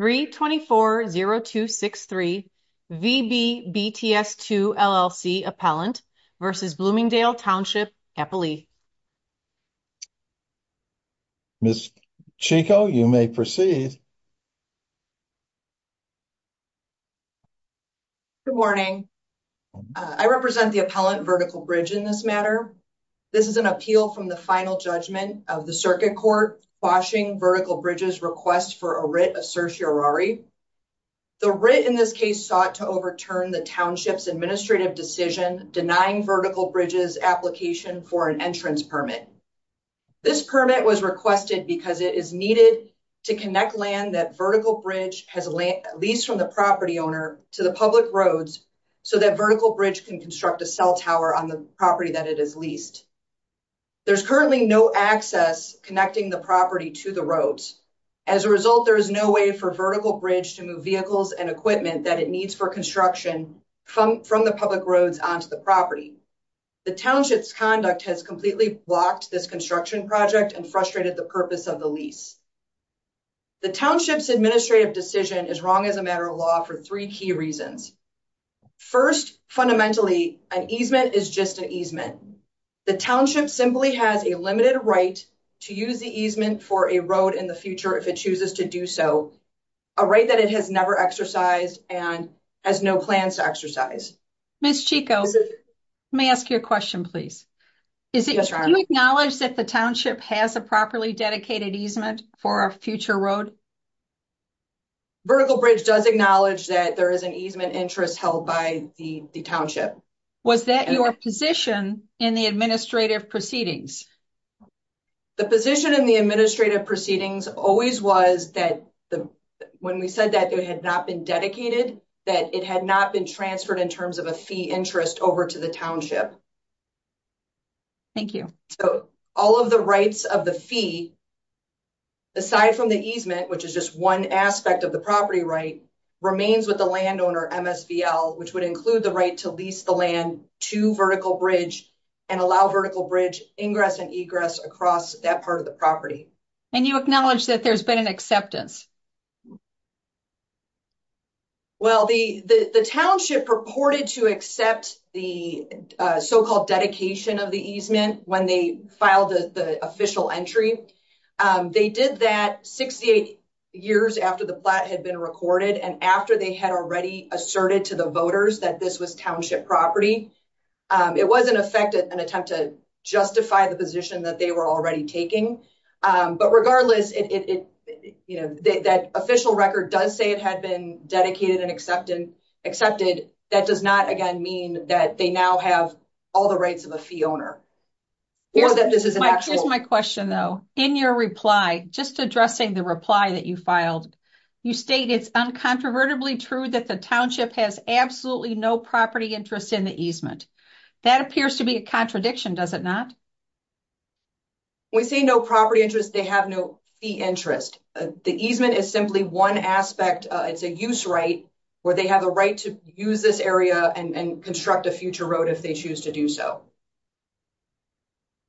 324-0263 VB BTS II, LLC Appellant v. Bloomingdale Township, Eppley Ms. Chico, you may proceed. Good morning. I represent the Appellant, Vertical Bridge, in this matter. This is an appeal from the final judgment of the Circuit Court bashing Vertical Bridge's request for a writ of certiorari. The writ in this case sought to overturn the Township's administrative decision denying Vertical Bridge's application for an entrance permit. This permit was requested because it is needed to connect land that Vertical Bridge has leased from the property owner to the public roads so that Vertical Bridge can construct a cell tower on the property that it has leased. There is currently no access connecting the property to the roads. As a result, there is no way for Vertical Bridge to move vehicles and equipment that it needs for construction from the public roads onto the property. The Township's conduct has completely blocked this construction project and frustrated the purpose of the lease. The Township's administrative decision is wrong as a matter of law for three key reasons. First, fundamentally, an easement is just an easement. The Township simply has a limited right to use the easement for a road in the future if it chooses to do so, a right that it has never exercised and has no plans to exercise. Ms. Chico, may I ask you a question please? Do you acknowledge that the Township has a properly dedicated easement for a future road? Vertical Bridge does acknowledge that there is an easement interest held by the Township. Was that your position in the administrative proceedings? The position in the administrative proceedings always was that when we said that it had not been dedicated, that it had not been transferred in terms of a fee interest over to the Township. Thank you. All of the rights of the fee, aside from the easement, which is just one aspect of the property right, remains with the landowner MSVL, which would include the right to lease the land to Vertical Bridge and allow Vertical Bridge ingress and egress across that part of the property. And you acknowledge that there's been an acceptance? Well, the Township purported to accept the so-called dedication of the easement when they filed the official entry. They did that 68 years after the plot had been recorded and after they had already asserted to the voters that this was Township property. It was, in effect, an attempt to justify the position that they were already taking. But regardless, that official record does say it had been dedicated and accepted. That does not, again, mean that they now have all the rights of a fee owner. Here's my question, though. In your reply, just addressing the reply that you filed, you state it's uncontrovertibly true that the Township has absolutely no property interest in the easement. That appears to be a contradiction, does it not? When we say no property interest, they have no fee interest. The easement is simply one aspect. It's a use right where they have a right to use this area and construct a future road if they choose to do so.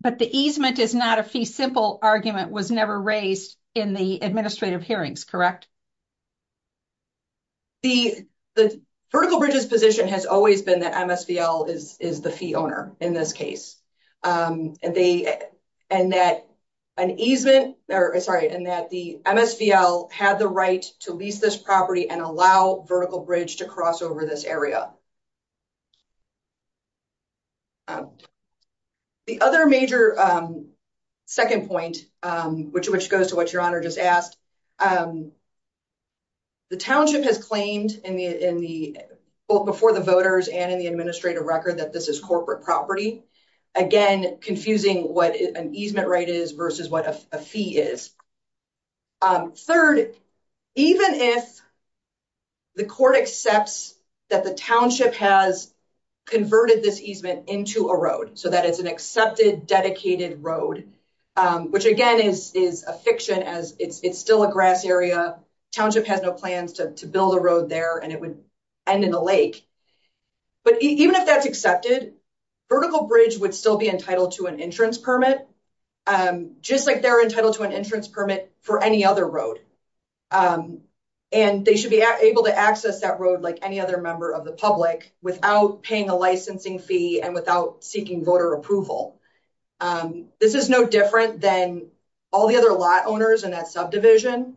But the easement is not a fee simple argument was never raised in the administrative hearings, correct? The vertical bridges position has always been that MSVL is the fee owner in this case. And that the MSVL had the right to lease this property and allow vertical bridge to cross over this area. The other major second point, which goes to what Your Honor just asked, the Township has claimed in the vote before the voters and in the administrative record that this is corporate property. Again, confusing what an easement right is versus what a fee is. Third, even if the court accepts that the Township has converted this easement into a road, so that it's an accepted, dedicated road, which again is a fiction as it's still a grass area. Township has no plans to build a road there and it would end in a lake. But even if that's accepted, vertical bridge would still be entitled to an insurance permit. Just like they're entitled to an insurance permit for any other road. And they should be able to access that road like any other member of the public without paying a licensing fee and without seeking voter approval. This is no different than all the other lot owners in that subdivision,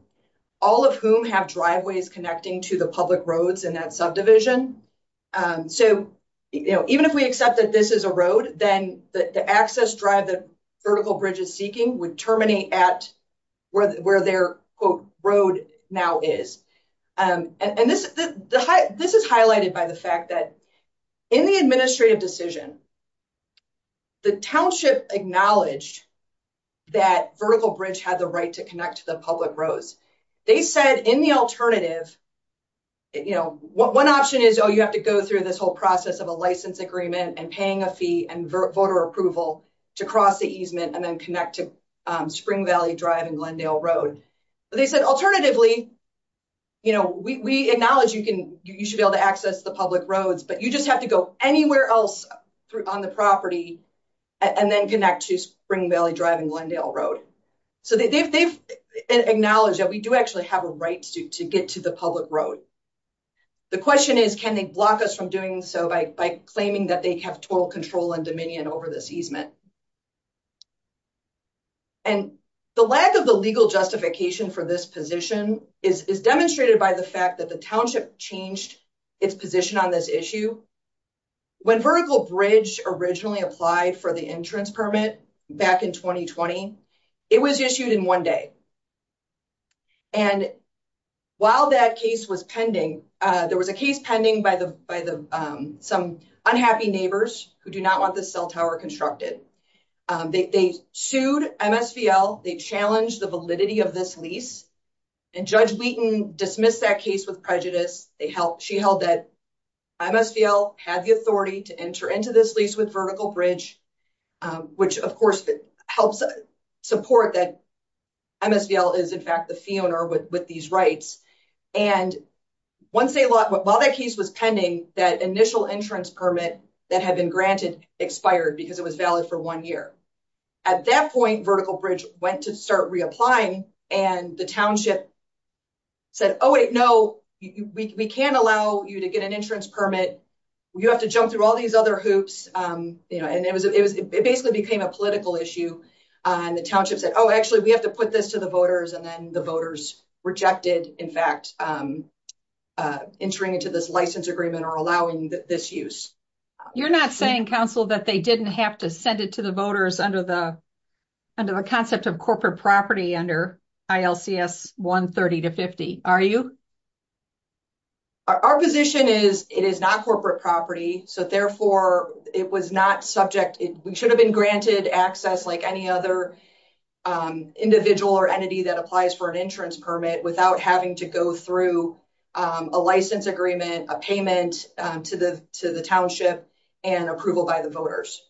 all of whom have driveways connecting to the public roads in that subdivision. So even if we accept that this is a road, then the access drive that Vertical Bridge is seeking would terminate at where their quote road now is. And this is highlighted by the fact that in the administrative decision, the Township acknowledged that Vertical Bridge had the right to connect to the public roads. They said in the alternative, one option is you have to go through this whole process of a license agreement and paying a fee and voter approval to cross the easement and then connect to Spring Valley Drive and Glendale Road. They said alternatively, we acknowledge you should be able to access the public roads, but you just have to go anywhere else on the property and then connect to Spring Valley Drive and Glendale Road. So they've acknowledged that we do actually have a right to get to the public road. The question is, can they block us from doing so by claiming that they have total control and dominion over this easement? And the lack of the legal justification for this position is demonstrated by the fact that the Township changed its position on this issue. When Vertical Bridge originally applied for the entrance permit back in 2020, it was issued in one day. And while that case was pending, there was a case pending by some unhappy neighbors who do not want the cell tower constructed. They sued MSVL. They challenged the validity of this lease. And Judge Wheaton dismissed that case with prejudice. She held that MSVL had the authority to enter into this lease with Vertical Bridge, which of course helps support that MSVL is in fact the fee owner with these rights. And while that case was pending, that initial entrance permit that had been granted expired because it was valid for one year. At that point, Vertical Bridge went to start reapplying. And the Township said, oh, wait, no, we can't allow you to get an entrance permit. You have to jump through all these other hoops. And it basically became a political issue. And the Township said, oh, actually, we have to put this to the voters. And then the voters rejected, in fact, entering into this license agreement or allowing this use. You're not saying, Counsel, that they didn't have to send it to the voters under the concept of corporate property under ILCS 130-50, are you? Our position is it is not corporate property. So, therefore, it was not subject. We should have been granted access like any other individual or entity that applies for an entrance permit without having to go through a license agreement, a payment to the Township, and approval by the voters.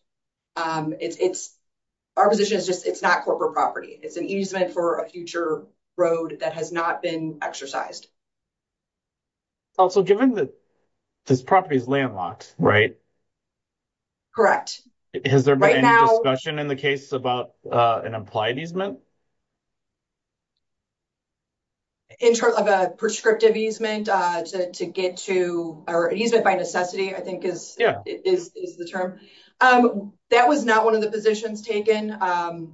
Our position is just it's not corporate property. It's an easement for a future road that has not been exercised. Also, given that this property is landlocked, right? Correct. Has there been any discussion in the case about an implied easement? In terms of a prescriptive easement to get to or an easement by necessity, I think, is the term. That was not one of the positions taken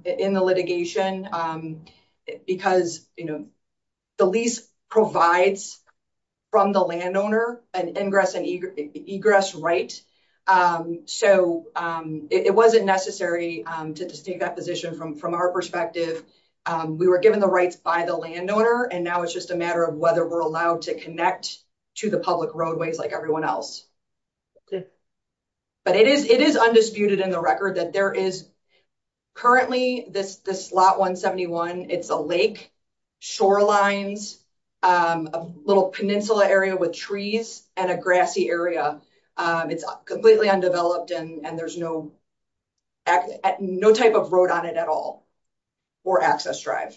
in the litigation because the lease provides from the landowner an ingress and egress right. So, it wasn't necessary to take that position from our perspective. We were given the rights by the landowner, and now it's just a matter of whether we're allowed to connect to the public roadways like everyone else. But it is undisputed in the record that there is currently this slot 171, it's a lake, shorelines, a little peninsula area with trees, and a grassy area. Completely undeveloped and there's no type of road on it at all. Or access drive.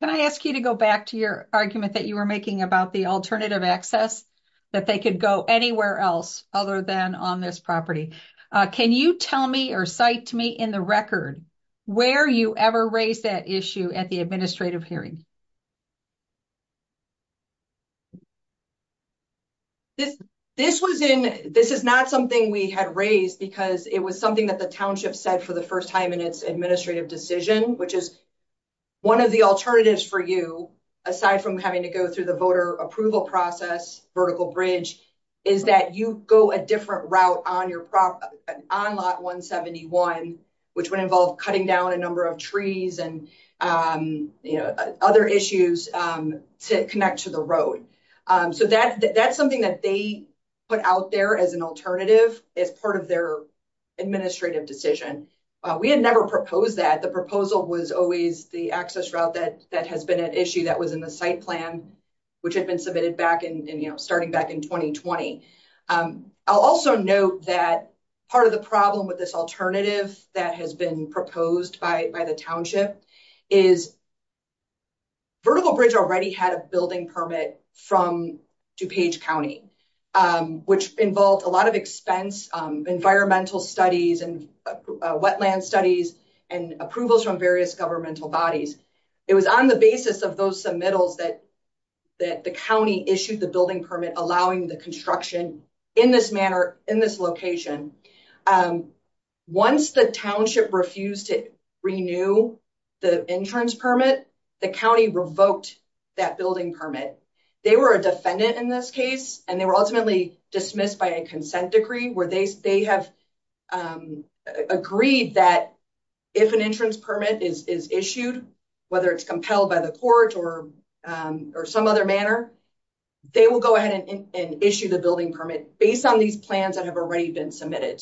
Can I ask you to go back to your argument that you were making about the alternative access? That they could go anywhere else other than on this property. Can you tell me or cite to me in the record where you ever raised that issue at the administrative hearing? This is not something we had raised because it was something that the township said for the first time in its administrative decision, which is one of the alternatives for you. Aside from having to go through the voter approval process, vertical bridge, is that you go a different route on lot 171, which would involve cutting down a number of trees and other issues to connect to the road. So, that's something that they put out there as an alternative as part of their administrative decision. We had never proposed that the proposal was always the access route that has been an issue that was in the site plan, which had been submitted back and starting back in 2020. I'll also note that part of the problem with this alternative that has been proposed by the township is. Vertical bridge already had a building permit from DuPage County, which involved a lot of expense, environmental studies and wetland studies and approvals from various governmental bodies. It was on the basis of those submittals that the county issued the building permit, allowing the construction in this manner in this location. Once the township refused to renew the entrance permit, the county revoked that building permit. They were a defendant in this case, and they were ultimately dismissed by a consent decree where they have agreed that if an entrance permit is issued, whether it's compelled by the court or some other manner, they will go ahead and issue the building permit based on these plans that have already been submitted.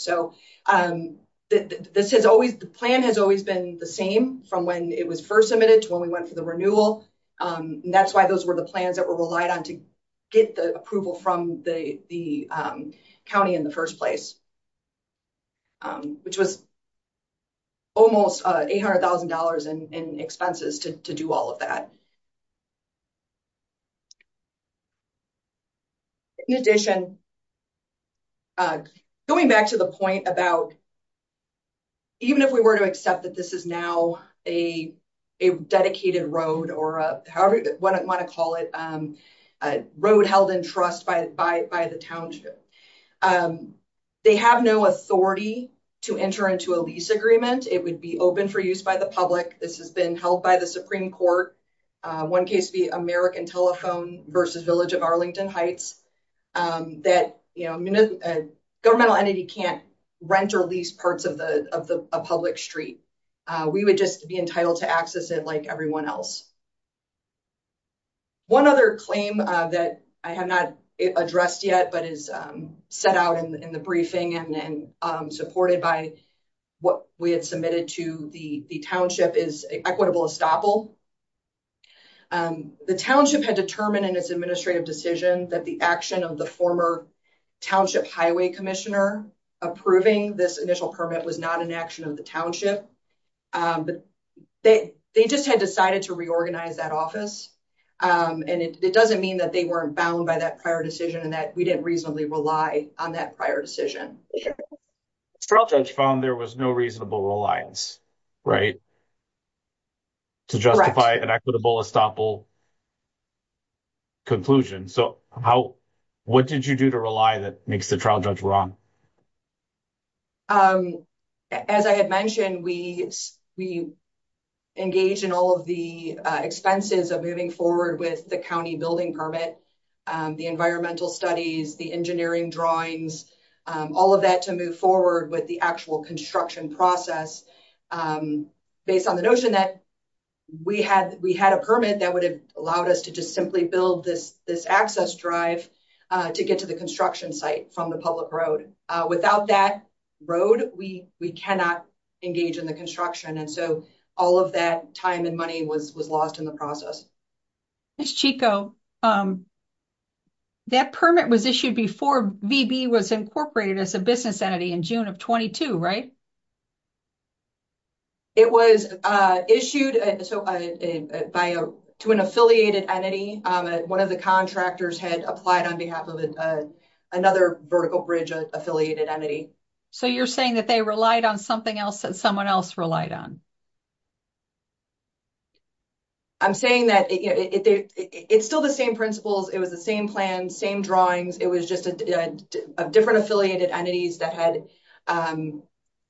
The plan has always been the same from when it was first submitted to when we went for the renewal. That's why those were the plans that were relied on to get the approval from the county in the first place, which was almost $800,000 in expenses to do all of that. In addition, going back to the point about even if we were to accept that this is now a dedicated road or whatever you want to call it, a road held in trust by the township, they have no authority to enter into a lease agreement. It would be open for use by the public. This has been held by the Supreme Court. One case would be American Telephone v. Village of Arlington Heights. A governmental entity can't rent or lease parts of a public street. We would just be entitled to access it like everyone else. One other claim that I have not addressed yet but is set out in the briefing and supported by what we had submitted to the township is equitable estoppel. The township had determined in its administrative decision that the action of the former township highway commissioner approving this initial permit was not an action of the township. They just had decided to reorganize that office. It doesn't mean that they weren't bound by that prior decision and that we didn't reasonably rely on that prior decision. The trial judge found there was no reasonable reliance to justify an equitable estoppel conclusion. What did you do to rely that makes the trial judge wrong? As I had mentioned, we engaged in all of the expenses of moving forward with the county building permit, the environmental studies, the engineering drawings, all of that to move forward with the actual construction process. Based on the notion that we had a permit that would have allowed us to just simply build this access drive to get to the construction site from the public road. Without that road, we cannot engage in the construction and so all of that time and money was lost in the process. Ms. Chico, that permit was issued before VB was incorporated as a business entity in June of 22, right? It was issued to an affiliated entity. One of the contractors had applied on behalf of another vertical bridge affiliated entity. So you're saying that they relied on something else that someone else relied on? I'm saying that it's still the same principles. It was the same plan, same drawings. It was just a different affiliated entities that had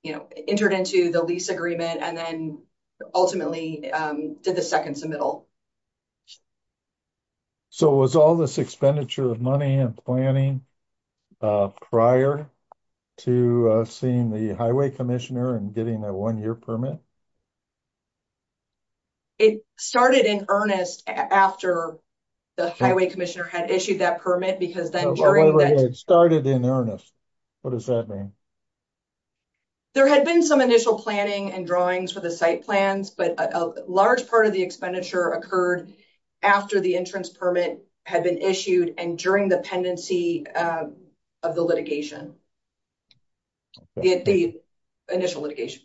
entered into the lease agreement and then ultimately did the second submittal. So, was all this expenditure of money and planning prior to seeing the highway commissioner and getting a 1-year permit? It started in earnest after the highway commissioner had issued that permit. It started in earnest. What does that mean? There had been some initial planning and drawings for the site plans, but a large part of the expenditure occurred after the entrance permit had been issued and during the pendency of the litigation. The initial litigation.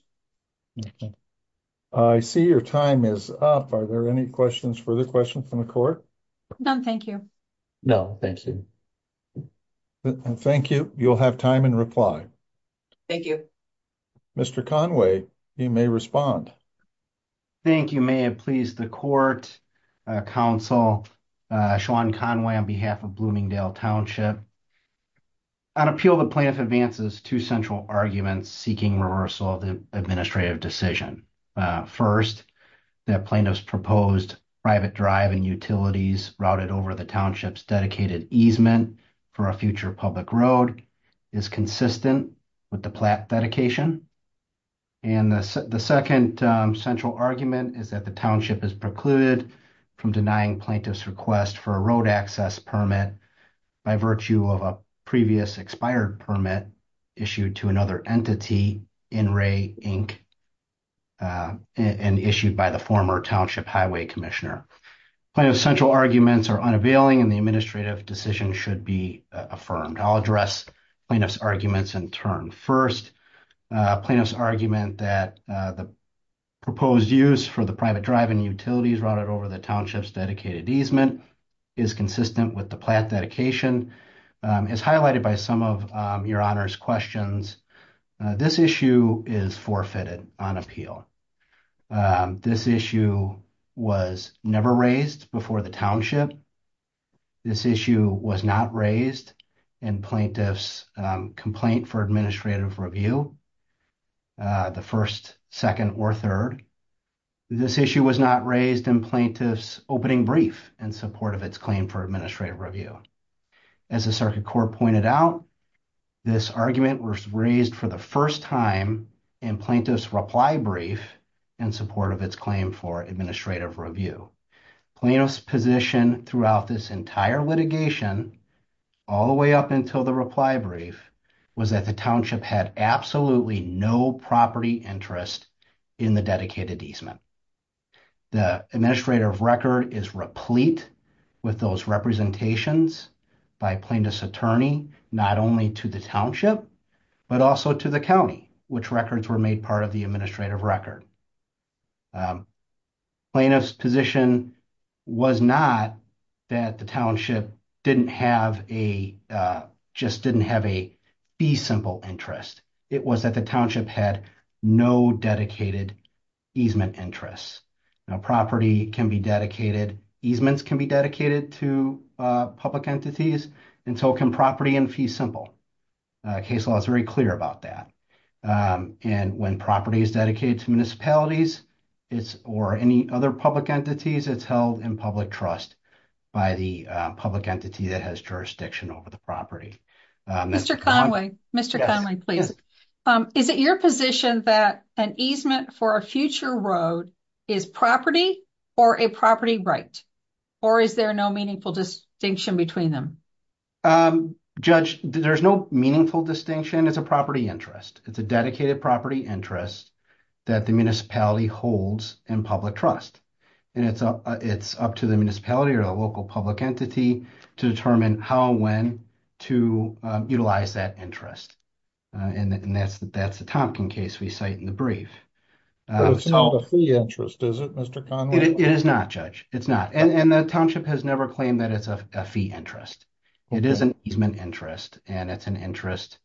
I see your time is up. Are there any questions, further questions from the court? None, thank you. No, thank you. Thank you. You'll have time in reply. Thank you. Mr. Conway, you may respond. Thank you. May it please the court, counsel, Sean Conway on behalf of Bloomingdale Township. On appeal, the plaintiff advances two central arguments seeking reversal of the administrative decision. First, that plaintiff's proposed private drive and utilities routed over the township's dedicated easement for a future public road is consistent with the plat dedication. And the second central argument is that the township is precluded from denying plaintiff's request for a road access permit by virtue of a previous expired permit issued to another entity in Ray, Inc., and issued by the former township highway commissioner. Plaintiff's central arguments are unavailing and the administrative decision should be affirmed. I'll address plaintiff's arguments in turn. First, plaintiff's argument that the proposed use for the private drive and utilities routed over the township's dedicated easement is consistent with the plat dedication is highlighted by some of your honor's questions. This issue is forfeited on appeal. This issue was never raised before the township. This issue was not raised in plaintiff's complaint for administrative review, the first, second, or third. This issue was not raised in plaintiff's opening brief in support of its claim for administrative review. As the circuit court pointed out, this argument was raised for the first time in plaintiff's reply brief in support of its claim for administrative review. Plaintiff's position throughout this entire litigation, all the way up until the reply brief, was that the township had absolutely no property interest in the dedicated easement. The administrative record is replete with those representations by plaintiff's attorney, not only to the township, but also to the county, which records were made part of the administrative record. Plaintiff's position was not that the township just didn't have a fee simple interest. It was that the township had no dedicated easement interests. Property can be dedicated, easements can be dedicated to public entities, and so can property and fee simple. Case law is very clear about that. And when property is dedicated to municipalities or any other public entities, it's held in public trust by the public entity that has jurisdiction over the property. Mr. Conway, Mr. Conway, please. Is it your position that an easement for a future road is property or a property right? Or is there no meaningful distinction between them? Judge, there's no meaningful distinction. It's a property interest. It's a dedicated property interest that the municipality holds in public trust. And it's up to the municipality or the local public entity to determine how and when to utilize that interest. And that's the Tompkins case we cite in the brief. It's not a fee interest, is it, Mr. Conway? It is not, Judge. It's not. And the township has never claimed that it's a fee interest. It is an easement interest, and it's an interest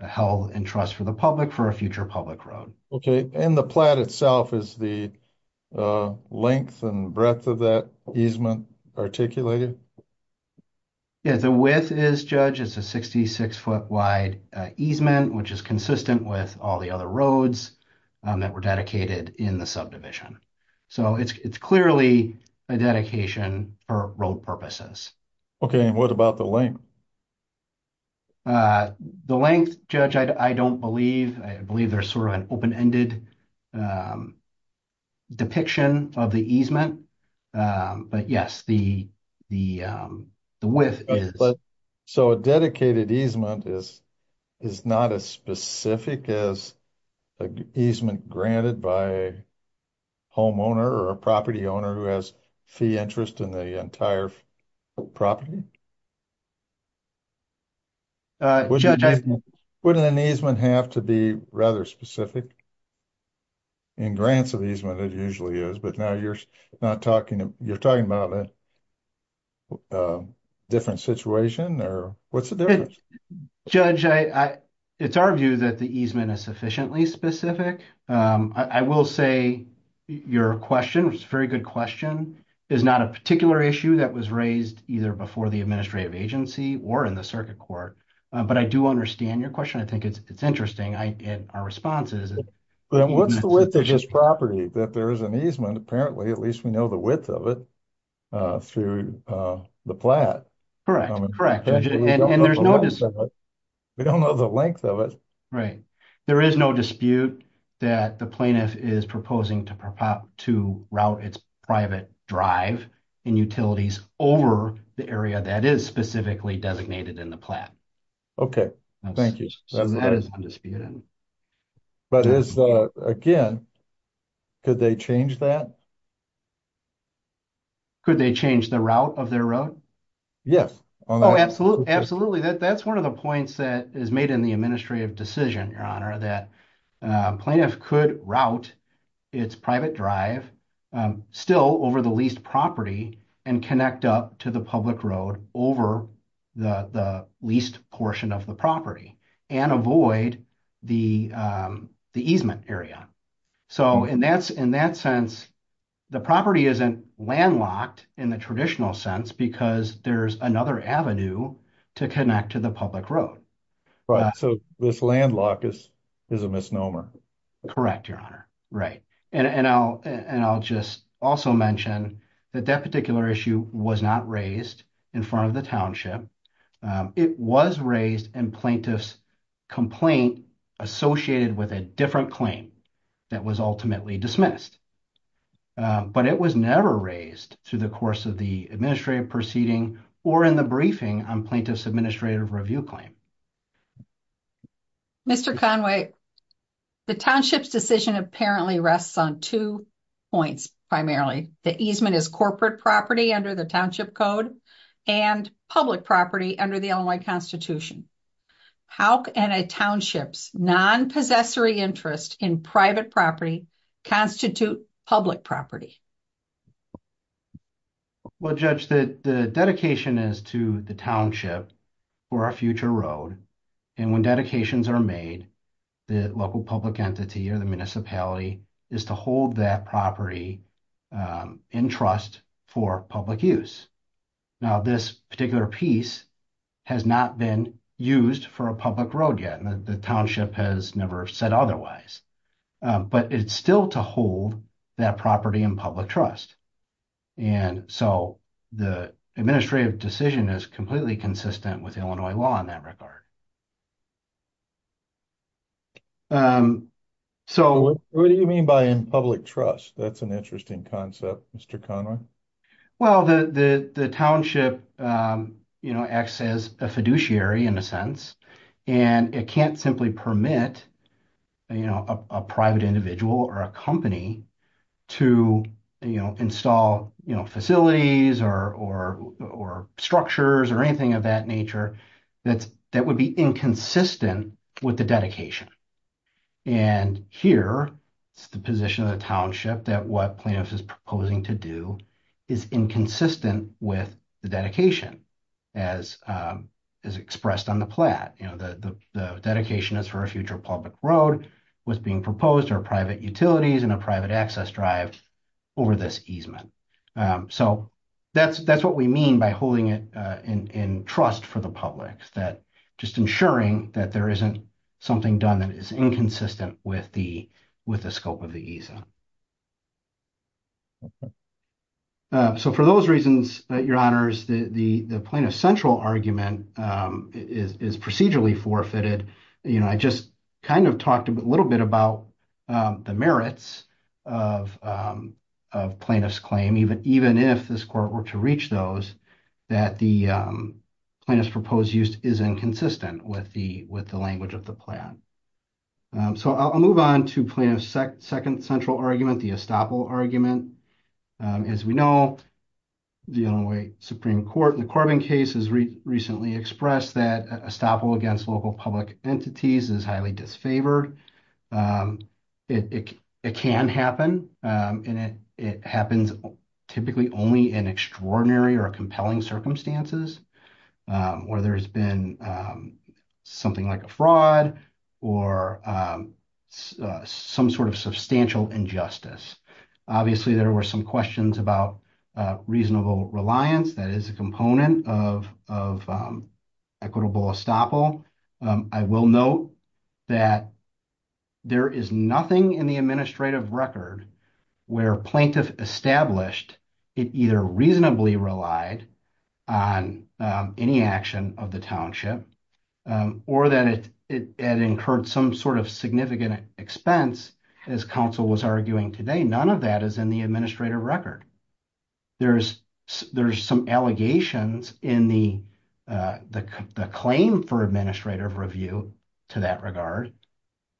held in trust for the public for a future public road. Okay. And the plat itself is the length and breadth of that easement articulated? Yeah, the width is, Judge, it's a 66-foot wide easement, which is consistent with all the other roads that were dedicated in the subdivision. So it's clearly a dedication for road purposes. Okay. And what about the length? The length, Judge, I don't believe. I believe there's sort of an open-ended depiction of the easement. But yes, the width is. So a dedicated easement is not as specific as an easement granted by a homeowner or a property owner who has fee interest in the entire property? Wouldn't an easement have to be rather specific? In grants of easement, it usually is. But now you're talking about a different situation? Or what's the difference? Judge, it's our view that the easement is sufficiently specific. I will say your question, which is a very good question, is not a particular issue that was raised either before the administrative agency or in the circuit court. But I do understand your question. I think it's interesting in our responses. What's the width of this property that there is an easement? Apparently, at least we know the width of it through the plat. Correct. And there's no dispute. We don't know the length of it. Right. There is no dispute that the plaintiff is proposing to route its private drive and utilities over the area that is specifically designated in the plat. Okay. Thank you. So that is undisputed. But again, could they change that? Could they change the route of their road? Oh, absolutely. That's one of the points that is made in the administrative decision, Your Honor, that plaintiff could route its private drive still over the leased property and connect up to the public road over the leased portion of the property and avoid the easement area. So in that sense, the property isn't landlocked in the traditional sense because there's another avenue to connect to the public road. Right. So this landlock is a misnomer. Correct, Your Honor. Right. And I'll just also mention that that particular issue was not raised in front of the township. It was raised in plaintiff's complaint associated with a different claim that was ultimately dismissed. But it was never raised through the course of the administrative proceeding or in the briefing on plaintiff's administrative review claim. Mr. Conway, the township's decision apparently rests on two points primarily. The easement is corporate property under the township code and public property under the Illinois Constitution. How can a township's non-possessory interest in private property constitute public property? Well, Judge, the dedication is to the township for a future road. And when dedications are made, the local public entity or the municipality is to hold that property in trust for public use. Now, this particular piece has not been used for a public road yet. The township has never said otherwise, but it's still to hold that property in public trust. And so the administrative decision is completely consistent with Illinois law in that regard. What do you mean by in public trust? That's an interesting concept, Mr. Conway. Well, the township acts as a fiduciary in a sense. And it can't simply permit a private individual or a company to install facilities or structures or anything of that nature that would be inconsistent with the dedication. And here is the position of the township that what plaintiff is proposing to do is inconsistent with the dedication as is expressed on the plat. The dedication is for a future public road was being proposed or private utilities and a private access drive over this easement. So that's what we mean by holding it in trust for the public that just ensuring that there isn't something done that is inconsistent with the scope of the easement. So for those reasons, your honors, the plaintiff's central argument is procedurally forfeited. I just kind of talked a little bit about the merits of plaintiff's claim, even if this court were to reach those, that the plaintiff's proposed use is inconsistent with the language of the plan. So I'll move on to plaintiff's second central argument, the estoppel argument. As we know, the Illinois Supreme Court in the Corbin case has recently expressed that estoppel against local public entities is highly disfavored. It can happen and it happens typically only in extraordinary or compelling circumstances where there's been something like a fraud or some sort of substantial injustice. Obviously, there were some questions about reasonable reliance that is a component of equitable estoppel. I will note that there is nothing in the administrative record where plaintiff established it either reasonably relied on any action of the township or that it had incurred some sort of significant expense, as counsel was arguing today. None of that is in the administrative record. There's some allegations in the claim for administrative review to that regard,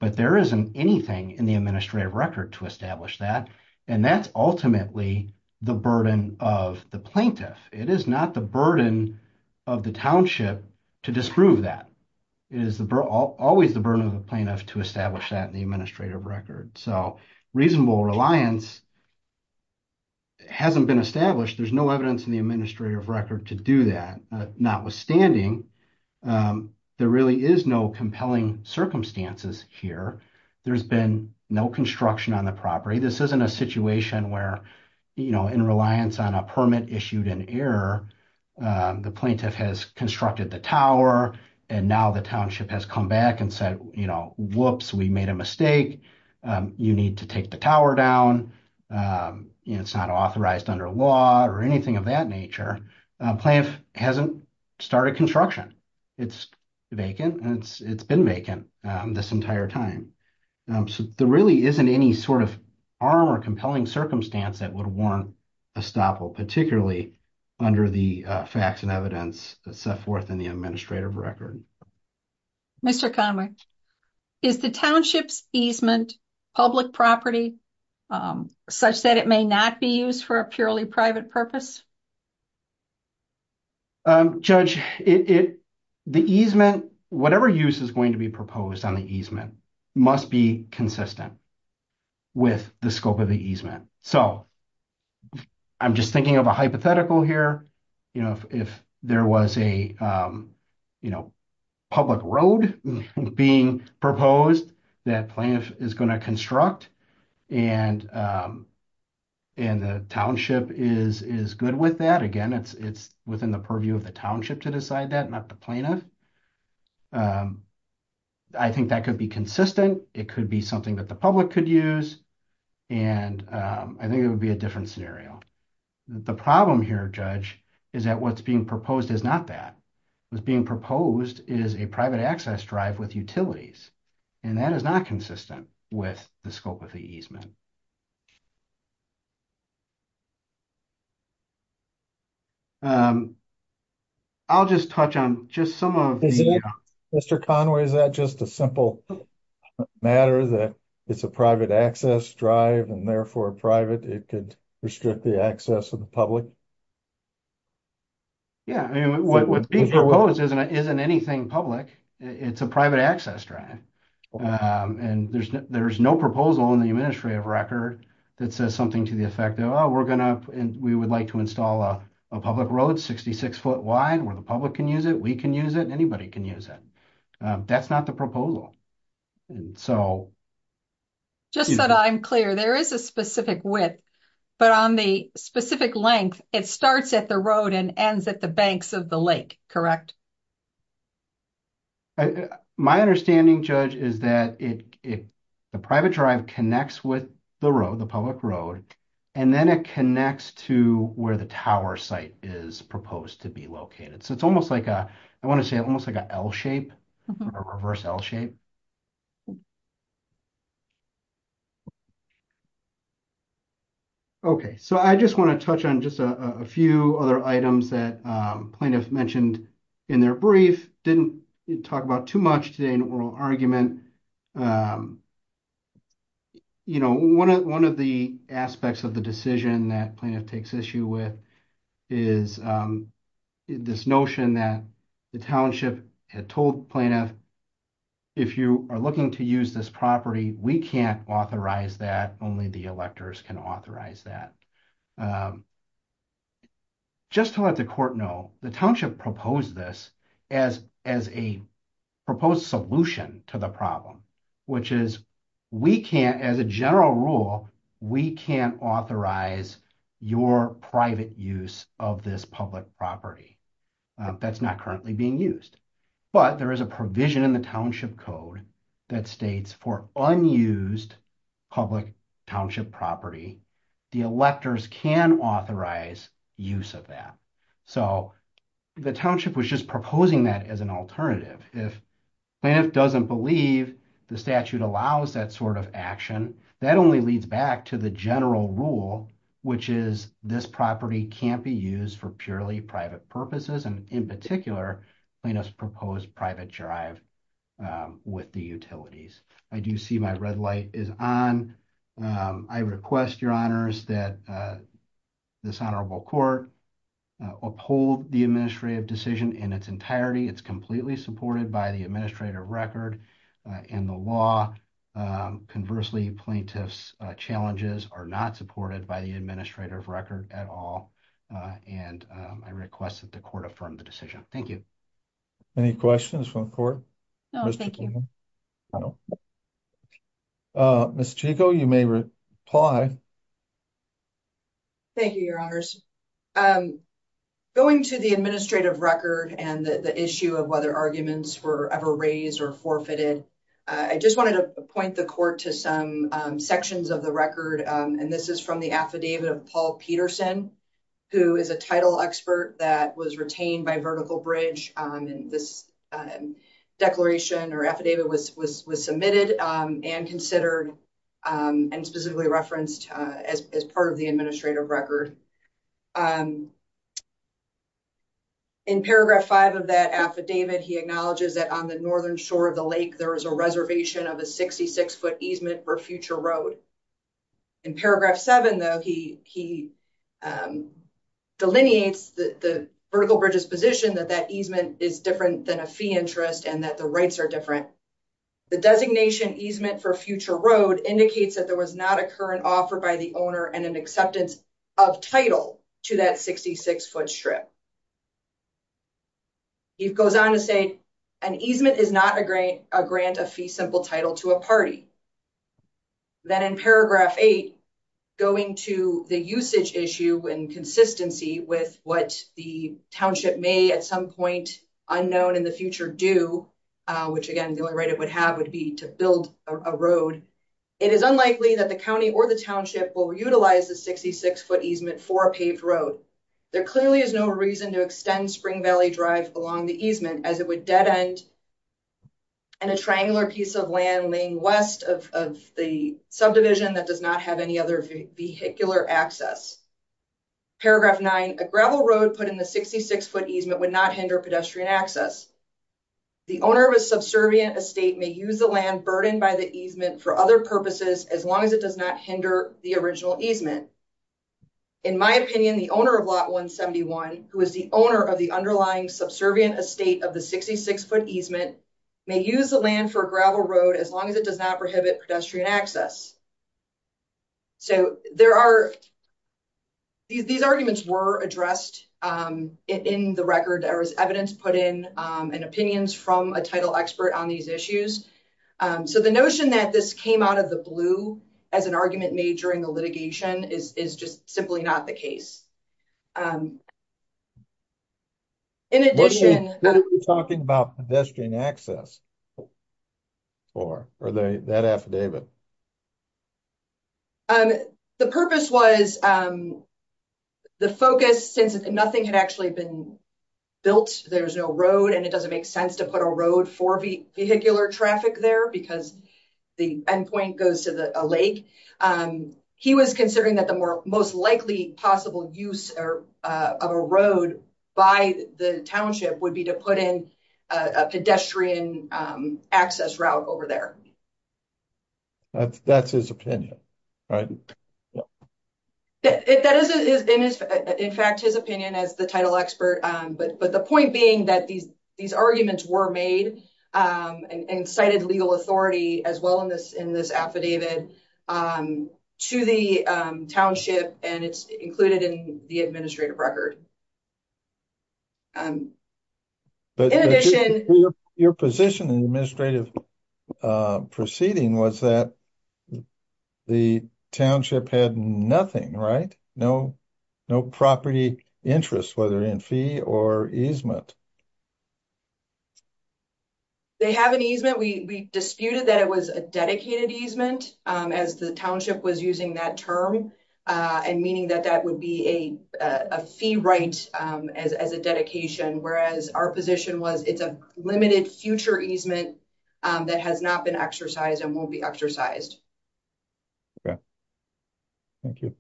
but there isn't anything in the administrative record to establish that. And that's ultimately the burden of the plaintiff. It is not the burden of the township to disprove that. It is always the burden of the plaintiff to establish that in the administrative record. So reasonable reliance hasn't been established. There's no evidence in the administrative record to do that. Notwithstanding, there really is no compelling circumstances here. There's been no construction on the property. This isn't a situation where, you know, in reliance on a permit issued in error, the plaintiff has constructed the tower and now the township has come back and said, you know, whoops, we made a mistake. You need to take the tower down. It's not authorized under law or anything of that nature. Plaintiff hasn't started construction. It's vacant and it's been vacant this entire time. So there really isn't any sort of arm or compelling circumstance that would warrant a stop, particularly under the facts and evidence set forth in the administrative record. Mr. Conway, is the township's easement public property such that it may not be used for a purely private purpose? Judge, the easement, whatever use is going to be proposed on the easement must be consistent with the scope of the easement. So I'm just thinking of a hypothetical here. You know, if there was a, you know, public road being proposed that plaintiff is going to construct and the township is good with that. Again, it's within the purview of the township to decide that, not the plaintiff. I think that could be consistent. It could be something that the public could use. And I think it would be a different scenario. The problem here, Judge, is that what's being proposed is not that. What's being proposed is a private access drive with utilities. And that is not consistent with the scope of the easement. I'll just touch on just some of the. Mr. Conway, is that just a simple matter that it's a private access drive and therefore private? It could restrict the access of the public. Yeah, I mean, what would be proposed isn't anything public. It's a private access drive. And there's no proposal in the administrative record that says something to the effect of, oh, we're going to we would like to install a public road, 66 foot wide where the public can use it. We can use it. Anybody can use it. That's not the proposal. And so. Just so that I'm clear, there is a specific width. But on the specific length, it starts at the road and ends at the banks of the lake. Correct. My understanding, Judge, is that the private drive connects with the road, the public road, and then it connects to where the tower site is proposed to be located. So it's almost like I want to say almost like an L shape or reverse L shape. Okay, so I just want to touch on just a few other items that plaintiff mentioned in their brief didn't talk about too much today in oral argument. You know, one of one of the aspects of the decision that plaintiff takes issue with is this notion that the township had told plaintiff. If you are looking to use this property, we can't authorize that only the electors can authorize that. Just to let the court know the township proposed this as as a proposed solution to the problem, which is, we can't as a general rule, we can't authorize your private use of this public property. That's not currently being used. But there is a provision in the township code that states for unused public township property. The electors can authorize use of that. So the township was just proposing that as an alternative. If plaintiff doesn't believe the statute allows that sort of action, that only leads back to the general rule, which is this property can't be used for purely private purposes. And in particular, plaintiff's proposed private drive with the utilities. I do see my red light is on. I request your honors that this honorable court uphold the administrative decision in its entirety. It's completely supported by the administrative record and the law. Conversely, plaintiff's challenges are not supported by the administrative record at all. And I request that the court affirm the decision. Thank you. Any questions from court? No, thank you. Miss Chico, you may reply. Thank you, your honors going to the administrative record and the issue of whether arguments were ever raised or forfeited. I just wanted to point the court to some sections of the record. And this is from the affidavit of Paul Peterson, who is a title expert that was retained by vertical bridge. And this declaration or affidavit was submitted and considered and specifically referenced as part of the administrative record. In paragraph five of that affidavit, he acknowledges that on the northern shore of the lake, there is a reservation of a 66 foot easement for future road. In paragraph seven, though, he he delineates the vertical bridges position that that easement is different than a fee interest and that the rights are different. The designation easement for future road indicates that there was not a current offer by the owner and an acceptance of title to that 66 foot strip. He goes on to say an easement is not a great a grant, a fee, simple title to a party. Then in paragraph eight, going to the usage issue and consistency with what the township may at some point unknown in the future do, which again, the only right it would have would be to build a road. It is unlikely that the county or the township will utilize the 66 foot easement for a paved road. There clearly is no reason to extend spring valley drive along the easement as it would dead end. And a triangular piece of land laying west of the subdivision that does not have any other vehicular access. Paragraph nine, a gravel road put in the 66 foot easement would not hinder pedestrian access. The owner of a subservient estate may use the land burdened by the easement for other purposes as long as it does not hinder the original easement. In my opinion, the owner of lot 171, who is the owner of the underlying subservient estate of the 66 foot easement may use the land for a gravel road as long as it does not prohibit pedestrian access. So, there are. These arguments were addressed in the record. There was evidence put in and opinions from a title expert on these issues. So, the notion that this came out of the blue as an argument made during the litigation is just simply not the case. In addition, talking about pedestrian access. Or are they that affidavit. The purpose was. The focus, since nothing had actually been built, there's no road and it doesn't make sense to put a road for vehicular traffic there because. The end point goes to the lake, he was considering that the most likely possible use of a road by the township would be to put in a pedestrian access route over there. That's his opinion, right? That is, in fact, his opinion as the title expert, but the point being that these, these arguments were made and cited legal authority as well in this, in this affidavit. To the township, and it's included in the administrative record. In addition, your position in the administrative. Proceeding was that the township had nothing right? No. No property interest, whether in fee or easement. They have an easement we disputed that it was a dedicated easement as the township was using that term and meaning that that would be a fee right as as a dedication. Whereas our position was, it's a limited future easement. That has not been exercised and won't be exercised. Okay, thank you.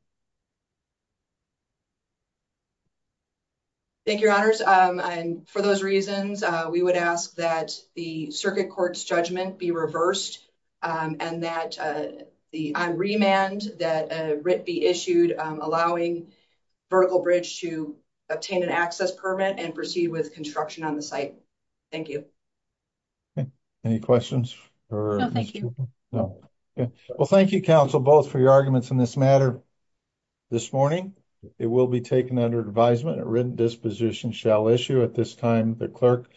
Thank your honors and for those reasons, we would ask that the circuit court's judgment be reversed. And that the remand that be issued, allowing. Vertical bridge to obtain an access permit and proceed with construction on the site. Thank you. Any questions? No, thank you. Well, thank you counsel both for your arguments in this matter. This morning, it will be taken under advisement written disposition shall issue at this time, the clerk.